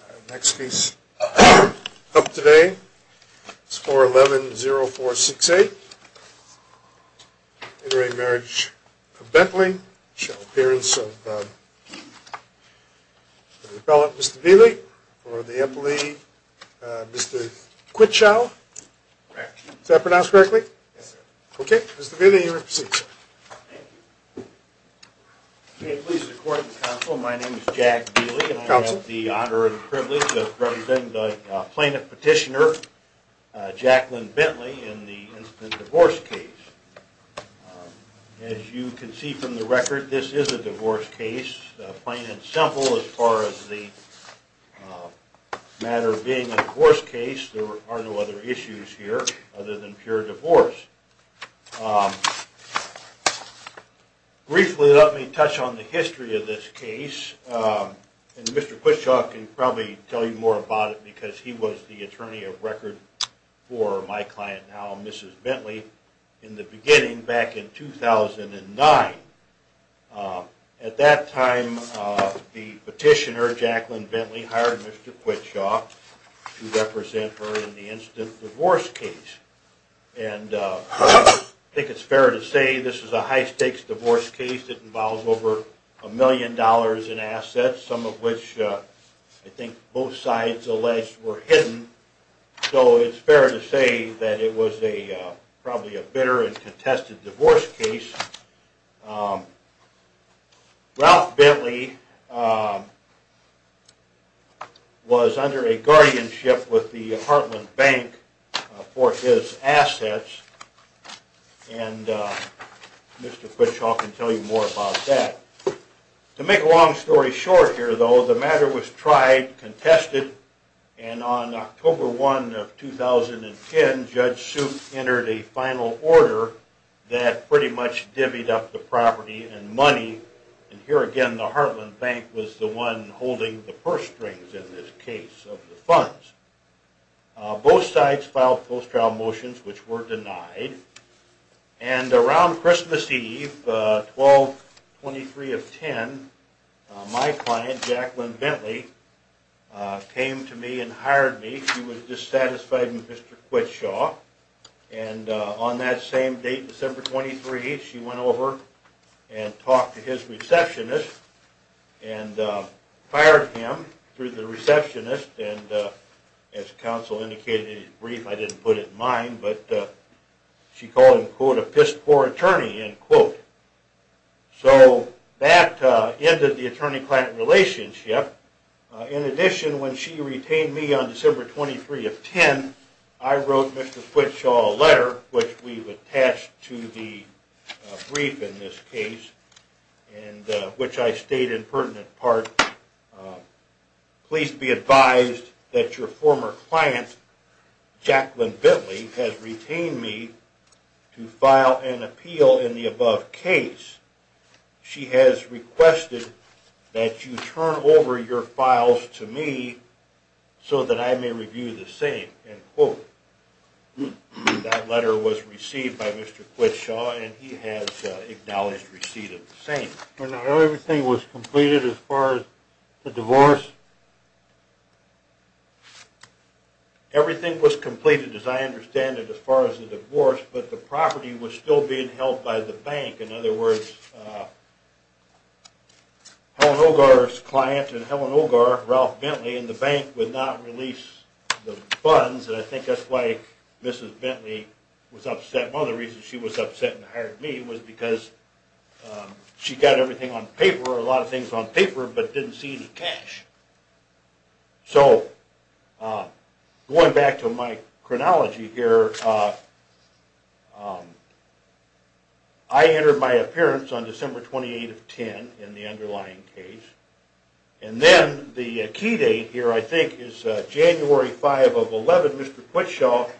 Our next case up today is 411-0468, intermarriage of Bentley, shall appearance of the appellate Mr. Beeley or the employee Mr. Quitschau, is that pronounced correctly? Yes sir. Okay, Mr. Beeley you may proceed sir. May it please the court and counsel my name is Jack Beeley and I have the honor and privilege of representing the plaintiff petitioner Jacqueline Bentley in the instant divorce case. As you can see from the record this is a divorce case, plain and simple as far as the matter being a divorce case there are no other issues here other than pure divorce. Briefly let me touch on the history of this case and Mr. Quitschau can probably tell you more about it because he was the attorney of record for my client now Mrs. Bentley in the beginning back in 2009. At that time the petitioner Jacqueline Bentley hired Mr. Quitschau to represent her in the instant divorce case and I think it's fair to say this is a high stakes divorce case that involves over a million dollars in assets some of which I think both sides alleged were hidden. So it's fair to say that it was probably a bitter and contested divorce case. Ralph Bentley was under a guardianship with the Heartland Bank for his assets and Mr. Quitschau can tell you more about that. To make a long story short here though the matter was tried, contested and on October 1 of 2010 Judge Soup entered a final order that pretty much divvied up the property and money and here again the Heartland Bank was the one holding the purse strings in this case of the funds. Both sides filed post trial motions which were denied and around Christmas Eve 12-23 of 10 my client Jacqueline Bentley came to me and hired me. She was dissatisfied with Mr. Quitschau and on that same date December 23 she went over and talked to his receptionist and hired him through the receptionist and as counsel indicated in his brief I didn't put it in mine but she called him quote a pissed poor attorney end quote. So that ended the attorney-client relationship in addition when she retained me on December 23 of 10 I wrote Mr. Quitschau a letter which we've attached to the brief in this case and which I state in pertinent part please be advised that your former client Jacqueline Bentley has retained me to file an appeal in the above case. She has requested that you turn over your files to me so that I may review the same end quote. That letter was received by Mr. Quitschau and he has acknowledged receipt of the same. Everything was completed as far as the divorce? Of course but the property was still being held by the bank. In other words Helen Ogar's client and Helen Ogar, Ralph Bentley and the bank would not release the funds and I think that's why Mrs. Bentley was upset. One of the reasons she was upset and hired me was because she got everything on paper, a lot of things on paper but didn't see any cash. So going back to my chronology here I entered my appearance on December 28 of 10 in the underlying case and then the key date here I think is January 5 of 11 Mr. Quitschau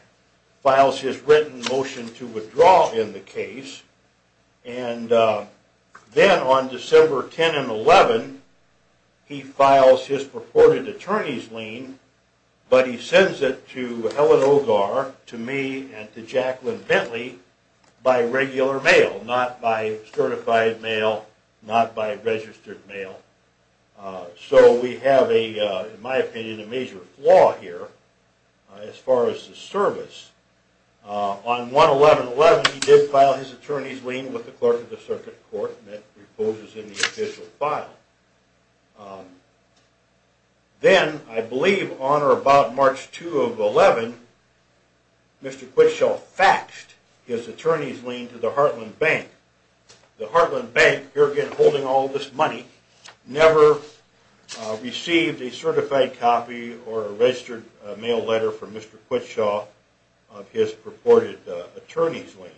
files his written motion to withdraw in the case. Then on December 10 and 11 he files his purported attorney's lien but he sends it to Helen Ogar, to me and to Jacqueline Bentley by regular mail not by certified mail, not by registered mail. So we have in my opinion a major flaw here as far as the service. On 1-11-11 he did file his attorney's lien with the clerk of the circuit court and it reposes in the official file. Then I believe on or about March 2 of 11 Mr. Quitschau faxed his attorney's lien to the Heartland Bank. The Heartland Bank, here again holding all this money, never received a certified copy or a registered mail letter from Mr. Quitschau of his purported attorney's lien.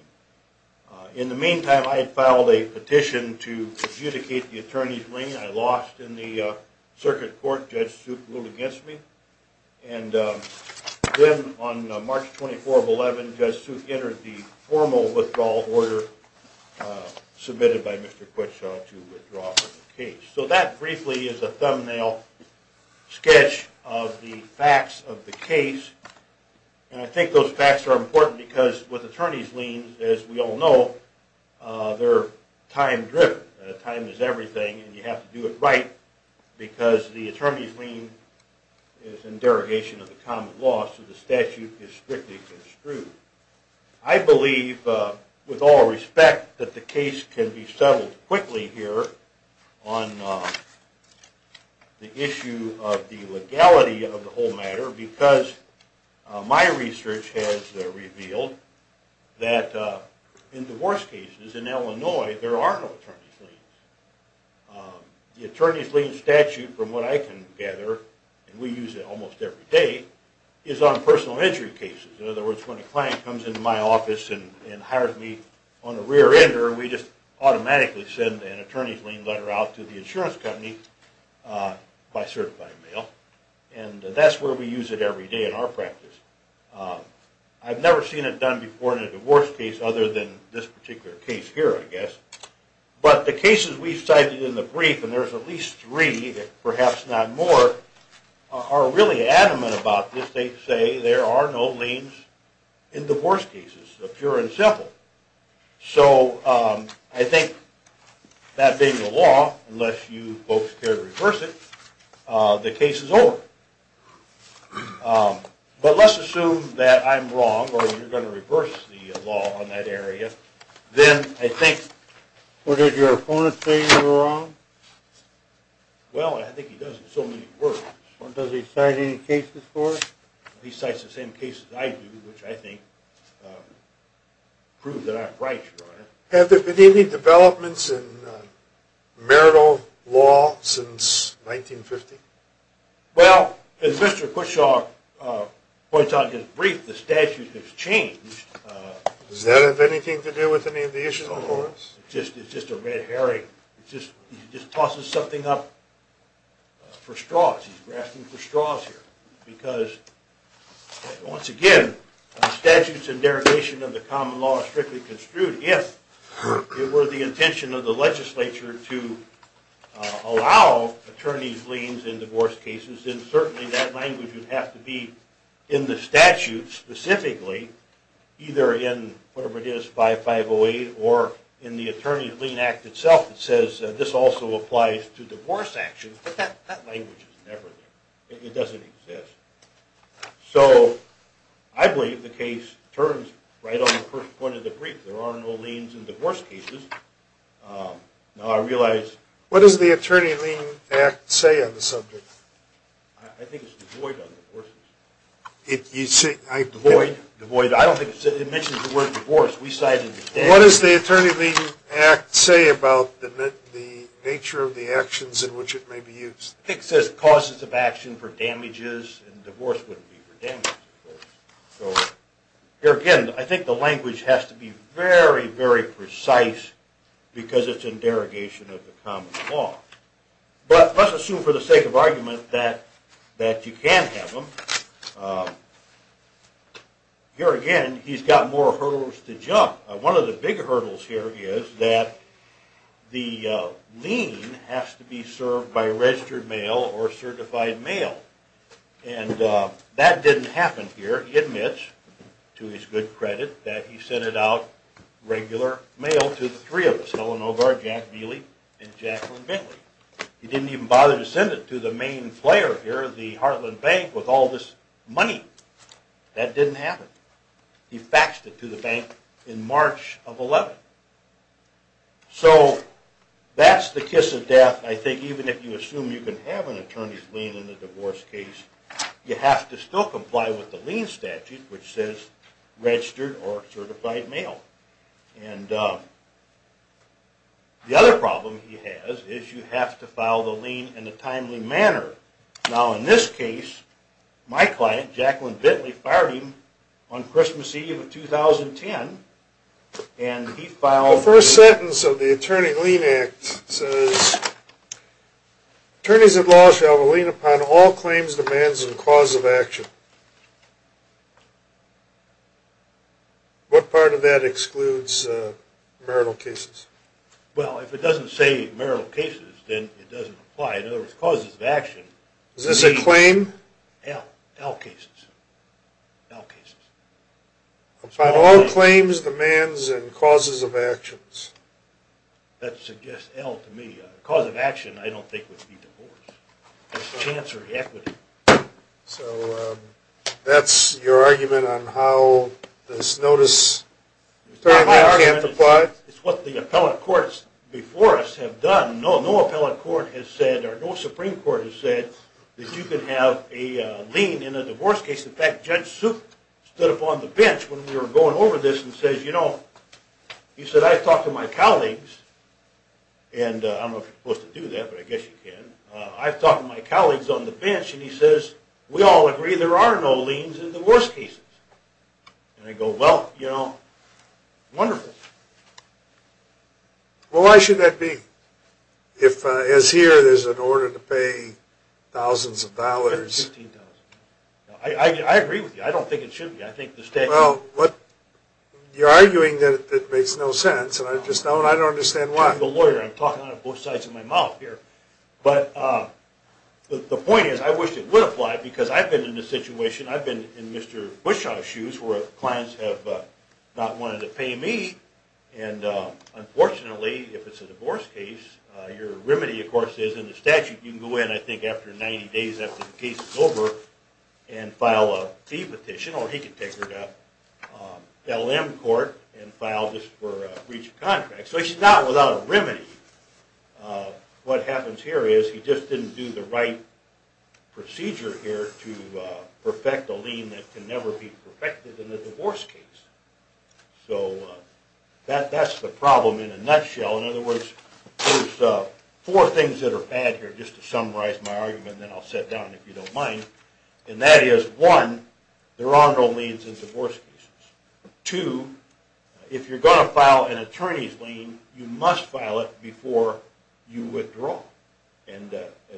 In the meantime I had filed a petition to adjudicate the attorney's lien I lost in the circuit court, Judge Suk ruled against me. And then on March 24 of 11 Judge Suk entered the formal withdrawal order submitted by Mr. Quitschau to withdraw from the case. So that briefly is a thumbnail sketch of the facts of the case and I think those facts are important because with attorney's liens as we all know they're time driven. Time is everything and you have to do it right because the attorney's lien is in derogation of the common law so the statute is strictly construed. I believe with all respect that the case can be settled quickly here on the issue of the legality of the whole matter because my research has revealed that in divorce cases in Illinois there are no attorney's liens. The attorney's lien statute from what I can gather, and we use it almost every day, is on personal injury cases. In other words when a client comes into my office and hires me on a rear ender we just automatically send an attorney's lien letter out to the insurance company by certified mail. And that's where we use it every day in our practice. I've never seen it done before in a divorce case other than this particular case here I guess. But the cases we've cited in the brief, and there's at least three if perhaps not more, are really adamant about this. They say there are no liens in divorce cases, pure and simple. So I think that being the law, unless you folks care to reverse it, the case is over. But let's assume that I'm wrong, or you're going to reverse the law on that area, then I think... Have there been any developments in marital law since 1950? Well, as Mr. Kutchaw points out in his brief, the statute has changed. Does that have anything to do with any of the issues? It's just a red herring. He just tosses something up for straws. He's grasping for straws here. Once again, the statutes and derogation of the common law are strictly construed if it were the intention of the legislature to allow attorney's liens in divorce cases, then certainly that language would have to be in the statute specifically, either in whatever it is, 5508, or in the Attorney's Lien Act itself. It says this also applies to divorce actions, but that language is never there. It doesn't exist. So I believe the case turns right on the first point of the brief. There are no liens in divorce cases. Now I realize... What does the Attorney's Lien Act say on the subject? I think it's devoid on divorces. You say... I don't think it mentions the word divorce. We cited... What does the Attorney's Lien Act say about the nature of the actions in which it may be used? It says causes of action for damages, and divorce wouldn't be for damages. So here again, I think the language has to be very, very precise because it's in derogation of the common law. But let's assume for the sake of argument that you can have them. Here again, he's got more hurdles to jump. One of the big hurdles here is that the lien has to be served by registered mail or certified mail. And that didn't happen here. He admits, to his good credit, that he sent it out, regular mail, to the three of us. He didn't even bother to send it to the main player here, the Heartland Bank, with all this money. That didn't happen. He faxed it to the bank in March of 11. So that's the kiss of death, I think, even if you assume you can have an attorney's lien in a divorce case. You have to still comply with the lien statute, which says registered or certified mail. And the other problem he has is you have to file the lien in a timely manner. Now, in this case, my client, Jacqueline Bentley, fired him on Christmas Eve of 2010, and he filed... The first sentence of the Attorney Lien Act says, Attorneys at law shall have a lien upon all claims, demands, and causes of action. What part of that excludes marital cases? Well, if it doesn't say marital cases, then it doesn't apply. In other words, causes of action... Is this a claim? L. L cases. L cases. Upon all claims, demands, and causes of actions. That suggests L to me. Cause of action, I don't think, would be divorce. It's chancery equity. So that's your argument on how this notice... It's not my argument. It's what the appellate courts before us have done. No appellate court has said, or no Supreme Court has said, that you can have a lien in a divorce case. In fact, Judge Suk stood up on the bench when we were going over this and says, You know, he said, I've talked to my colleagues, and I don't know if you're supposed to do that, but I guess you can. I've talked to my colleagues on the bench, and he says, we all agree there are no liens in divorce cases. And I go, well, you know, wonderful. Well, why should that be? If, as here, there's an order to pay thousands of dollars... I agree with you. I don't think it should be. I think the statute... Well, you're arguing that it makes no sense, and I just don't understand why. I'm the lawyer. I'm talking out of both sides of my mouth here. But the point is, I wish it would apply, because I've been in this situation. I've been in Mr. Bushaw's shoes, where clients have not wanted to pay me. And unfortunately, if it's a divorce case, your remedy, of course, is in the statute, you can go in, I think, after 90 days after the case is over, and file a fee petition, or he can take it up, L.M. court, and file this for breach of contract. So it's not without a remedy. What happens here is, he just didn't do the right procedure here to perfect a lien that can never be perfected in a divorce case. So, that's the problem in a nutshell. In other words, there's four things that are bad here, just to summarize my argument, and then I'll sit down if you don't mind. And that is, one, there are no liens in divorce cases. Two, if you're going to file an attorney's lien, you must file it before you withdraw. And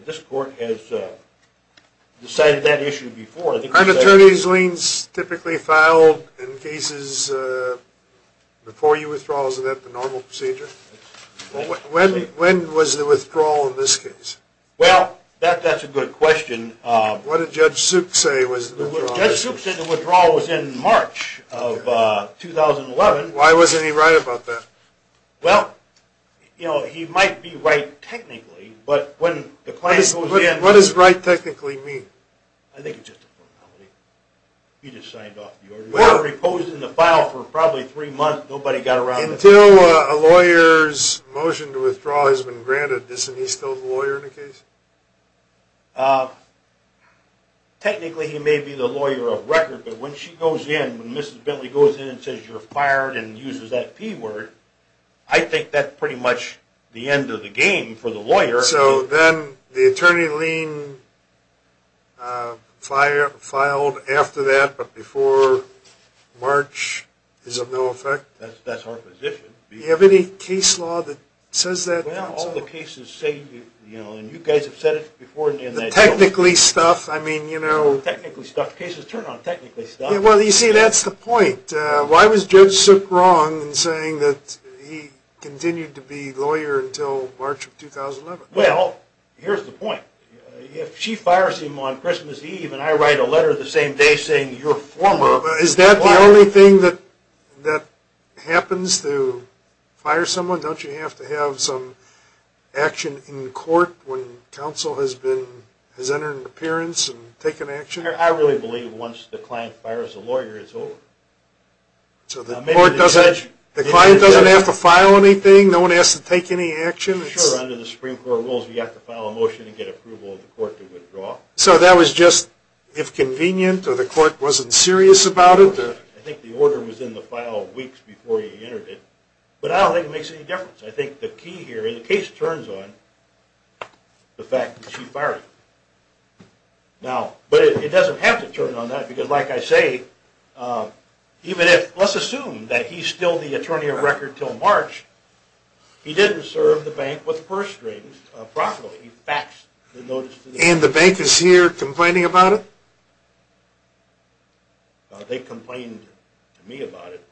this court has decided that issue before. Aren't attorney's liens typically filed in cases before you withdraw? Isn't that the normal procedure? When was the withdrawal in this case? Well, that's a good question. What did Judge Suk say was the withdrawal? Judge Suk said the withdrawal was in March of 2011. Why wasn't he right about that? Well, you know, he might be right technically, but when the client goes in... What does right technically mean? I think it's just a formality. He just signed off the order. Well, it was in the file for probably three months, nobody got around it. Until a lawyer's motion to withdraw has been granted, isn't he still the lawyer in the case? Technically, he may be the lawyer of record, but when she goes in, when Mrs. Bentley goes in and says you're fired and uses that P word, I think that's pretty much the end of the game for the lawyer. So then the attorney lien filed after that, but before March is of no effect? That's our position. Do you have any case law that says that? Well, all the cases say, you know, and you guys have said it before... Technically stuff, I mean, you know... Technically stuff. Cases turn on technically stuff. Well, you see, that's the point. Why was Judge Suk wrong in saying that he continued to be lawyer until March of 2011? Well, here's the point. If she fires him on Christmas Eve and I write a letter the same day saying you're fired... Is that the only thing that happens to fire someone? Don't you have to have some action in court when counsel has entered an appearance and taken action? I really believe once the client fires the lawyer, it's over. So the client doesn't have to file anything? No one has to take any action? Sure, under the Supreme Court rules, you have to file a motion and get approval of the court to withdraw. So that was just if convenient, or the court wasn't serious about it? I think the order was in the file weeks before he entered it. But I don't think it makes any difference. I think the key here, and the case turns on the fact that she fired him. But it doesn't have to turn on that, because like I say, even if, let's assume that he's still the attorney of record until March, he didn't serve the bank with first strings properly. He faxed the notice to the bank. And the bank is here complaining about it? They complained to me about it.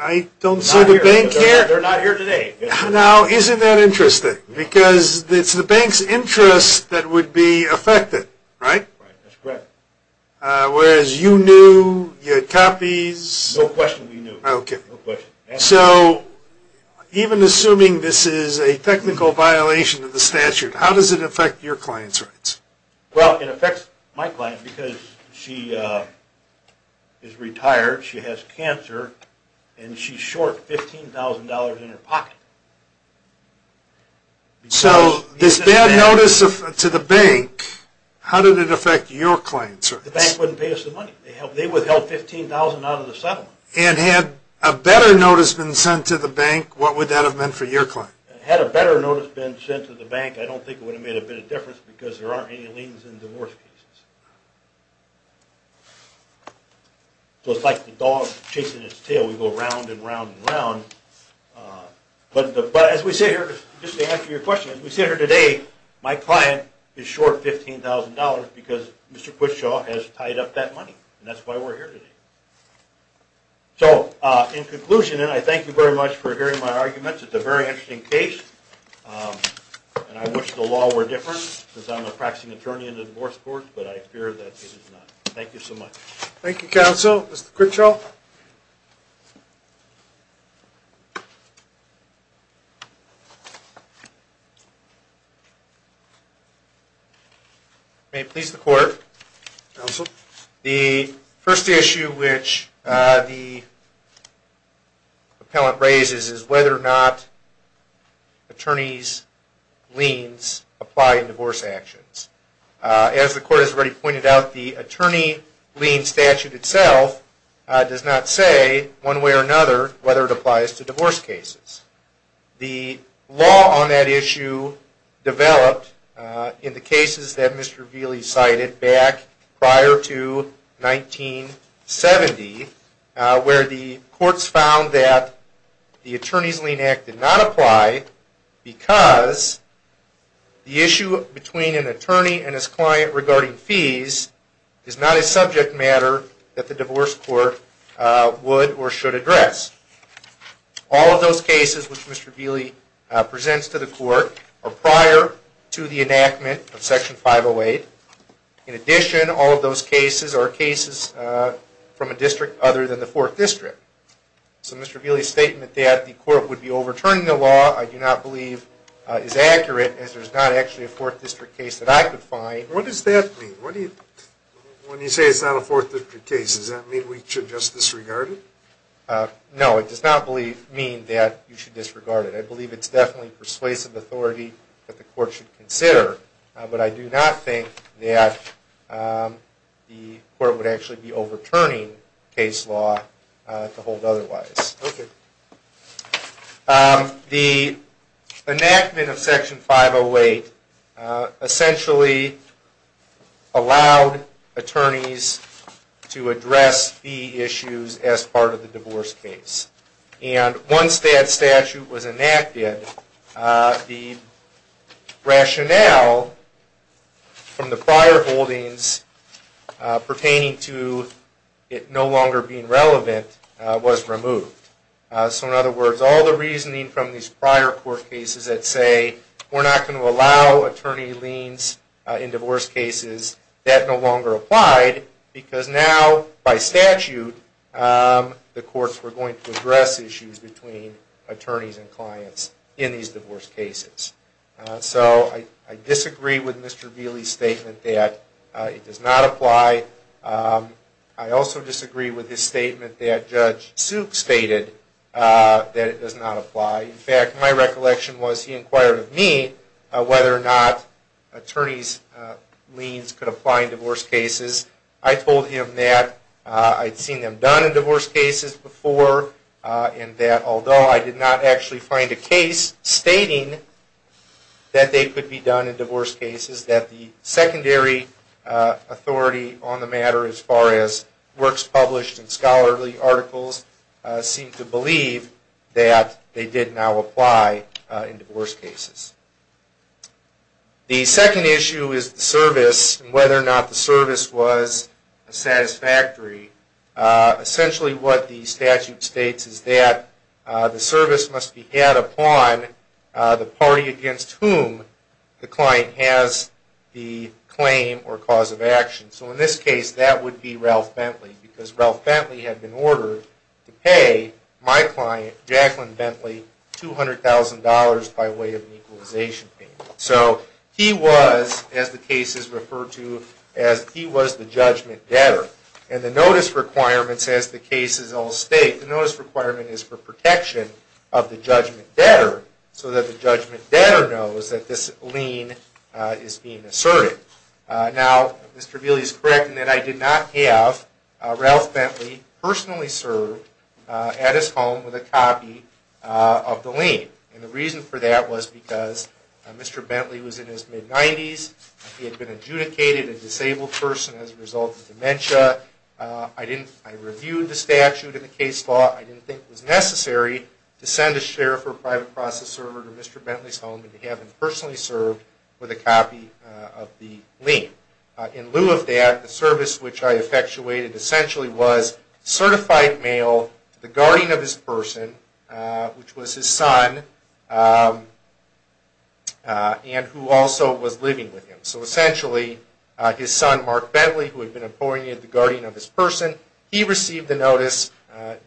I don't see the bank here. They're not here today. Now isn't that interesting? Because it's the bank's interest that would be affected, right? That's correct. Whereas you knew, you had copies. No question we knew. So even assuming this is a technical violation of the statute, how does it affect your client's rights? Well, it affects my client because she is retired. She has cancer. And she's short $15,000 in her pocket. So this bad notice to the bank, how did it affect your client's rights? The bank wouldn't pay us the money. They withheld $15,000 out of the settlement. And had a better notice been sent to the bank, what would that have meant for your client? Had a better notice been sent to the bank, I don't think it would have made a bit of difference because there aren't any liens in divorce cases. So it's like the dog chasing its tail. We go round and round and round. But as we sit here, just to answer your question, as we sit here today, my client is short $15,000 because Mr. Quitshaw has tied up that money. And that's why we're here today. So in conclusion, and I thank you very much for hearing my arguments. It's a very interesting case. And I wish the law were different because I'm a practicing attorney in the divorce court. But I fear that it is not. Thank you so much. Thank you, counsel. Mr. Quitshaw. May it please the court. Counsel. The first issue which the appellant raises is whether or not attorneys' liens apply in divorce actions. As the court has already pointed out, the attorney lien statute itself does not say, one way or another, whether it applies to divorce cases. The law on that issue developed in the cases that Mr. Vealey cited back prior to 1970 where the courts found that the Attorney's Lien Act did not apply because the issue between an attorney and his client regarding fees is not a subject matter that the divorce court would or should address. All of those cases which Mr. Vealey presents to the court are prior to the enactment of Section 508. In addition, all of those cases are cases from a district other than the Fourth District. So Mr. Vealey's statement that the court would be overturning the law I do not believe is accurate as there's not actually a Fourth District case that I could find. What does that mean? When you say it's not a Fourth District case, does that mean we should just disregard it? No, it does not mean that you should disregard it. I believe it's definitely persuasive authority that the court should consider, but I do not think that the court would actually be overturning case law to hold otherwise. Okay. The enactment of Section 508 essentially allowed attorneys to address fee issues as part of the divorce case. And once that statute was enacted, the rationale from the prior holdings pertaining to it no longer being relevant was removed. So in other words, all the reasoning from these prior court cases that say we're not going to allow attorney liens in divorce cases, that no longer applied because now, by statute, the courts were going to address issues between attorneys and clients in these divorce cases. So I disagree with Mr. Vealey's statement that it does not apply. I also disagree with his statement that Judge Suk stated that it does not apply. In fact, my recollection was he inquired of me whether or not attorneys' liens could apply in divorce cases. I told him that I'd seen them done in divorce cases before and that although I did not actually find a case stating that they could be done in divorce cases, that the secondary authority on the matter as far as works published in scholarly articles seemed to believe that they did now apply in divorce cases. The second issue is the service and whether or not the service was satisfactory. Essentially what the statute states is that the service must be had upon the party against whom the client has the claim or cause of action. So in this case, that would be Ralph Bentley because Ralph Bentley had been ordered to pay my client, Jacqueline Bentley, $200,000 by way of an equalization payment. So he was, as the case is referred to, as he was the judgment debtor. And the notice requirements as the case is all state, the notice requirement is for protection of the judgment debtor so that the judgment debtor knows that this lien is being asserted. Now, Mr. Vealey is correct in that I did not have Ralph Bentley personally serve at his home with a copy of the lien. And the reason for that was because Mr. Bentley was in his mid-90s, he had been adjudicated a disabled person as a result of dementia. I reviewed the statute in the case law. I didn't think it was necessary to send a sheriff or a private process server to Mr. Bentley's home if he hadn't personally served with a copy of the lien. In lieu of that, the service which I effectuated essentially was certified mail to the guardian of his person, which was his son, and who also was living with him. So essentially, his son, Mark Bentley, who had been appointed the guardian of his person, he received the notice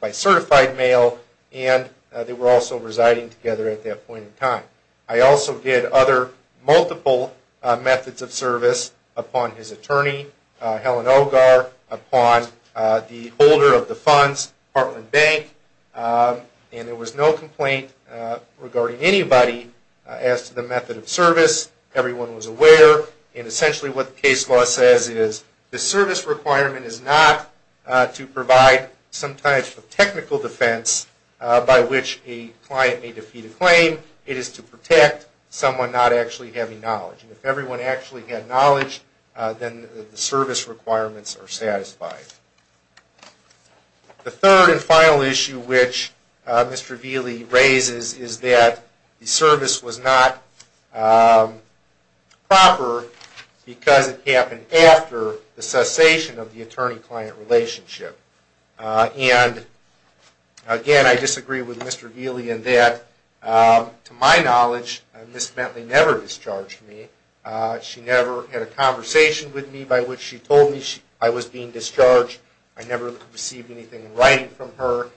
by certified mail and they were also residing together at that point in time. I also did other multiple methods of service upon his attorney, Helen Ogar, the holder of the funds, Parkland Bank, and there was no complaint regarding anybody as to the method of service. Everyone was aware. And essentially what the case law says is the service requirement is not to provide some type of technical defense by which a client may defeat a claim. It is to protect someone not actually having knowledge. And if everyone actually had knowledge, then the service requirements are satisfied. The third and final issue which Mr. Vealey raises is that the service was not proper because it happened after the cessation of the attorney-client relationship. And again, I disagree with Mr. Vealey in that, to my knowledge, Ms. Bentley never discharged me. She never had a conversation with me by which she told me I was being discharged and I never received anything in writing from her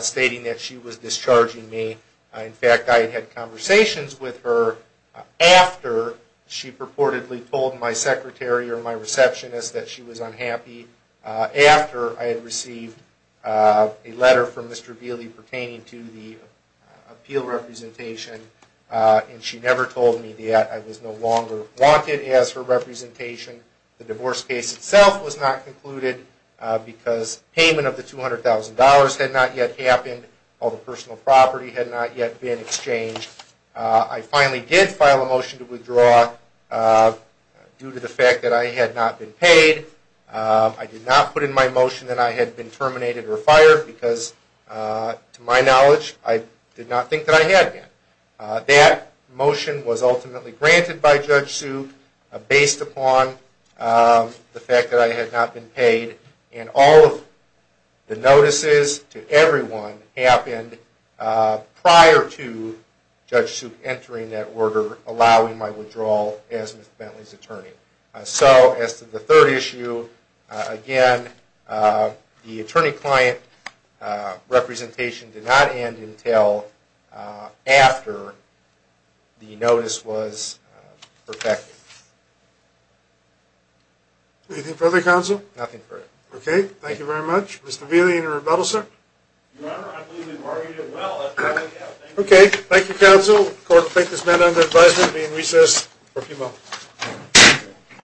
stating that she was discharging me. In fact, I had had conversations with her after she purportedly told my secretary or my receptionist that she was unhappy after I had received a letter from Mr. Vealey pertaining to the appeal representation and she never told me that I was no longer wanted as her representation. The divorce case itself was not concluded because payment of the $200,000 had not yet happened. All the personal property had not yet been exchanged. I finally did file a motion to withdraw due to the fact that I had not been paid. I did not put in my motion that I had been terminated or fired because, to my knowledge, I did not think that I had been. That motion was ultimately granted by Judge Sue based upon the fact that I had not been paid and all of the notices to everyone happened prior to Judge Sue entering that order allowing my withdrawal as Ms. Bentley's attorney. So, as to the third issue, again, the attorney-client representation did not end until after the notice was perfected. Anything further, counsel? Okay, thank you very much. Mr. Vealey, any rebuttal, sir? Your Honor, I believe we've argued it well. Okay, thank you, counsel. Court will take this matter under advisement and be in recess for a few moments.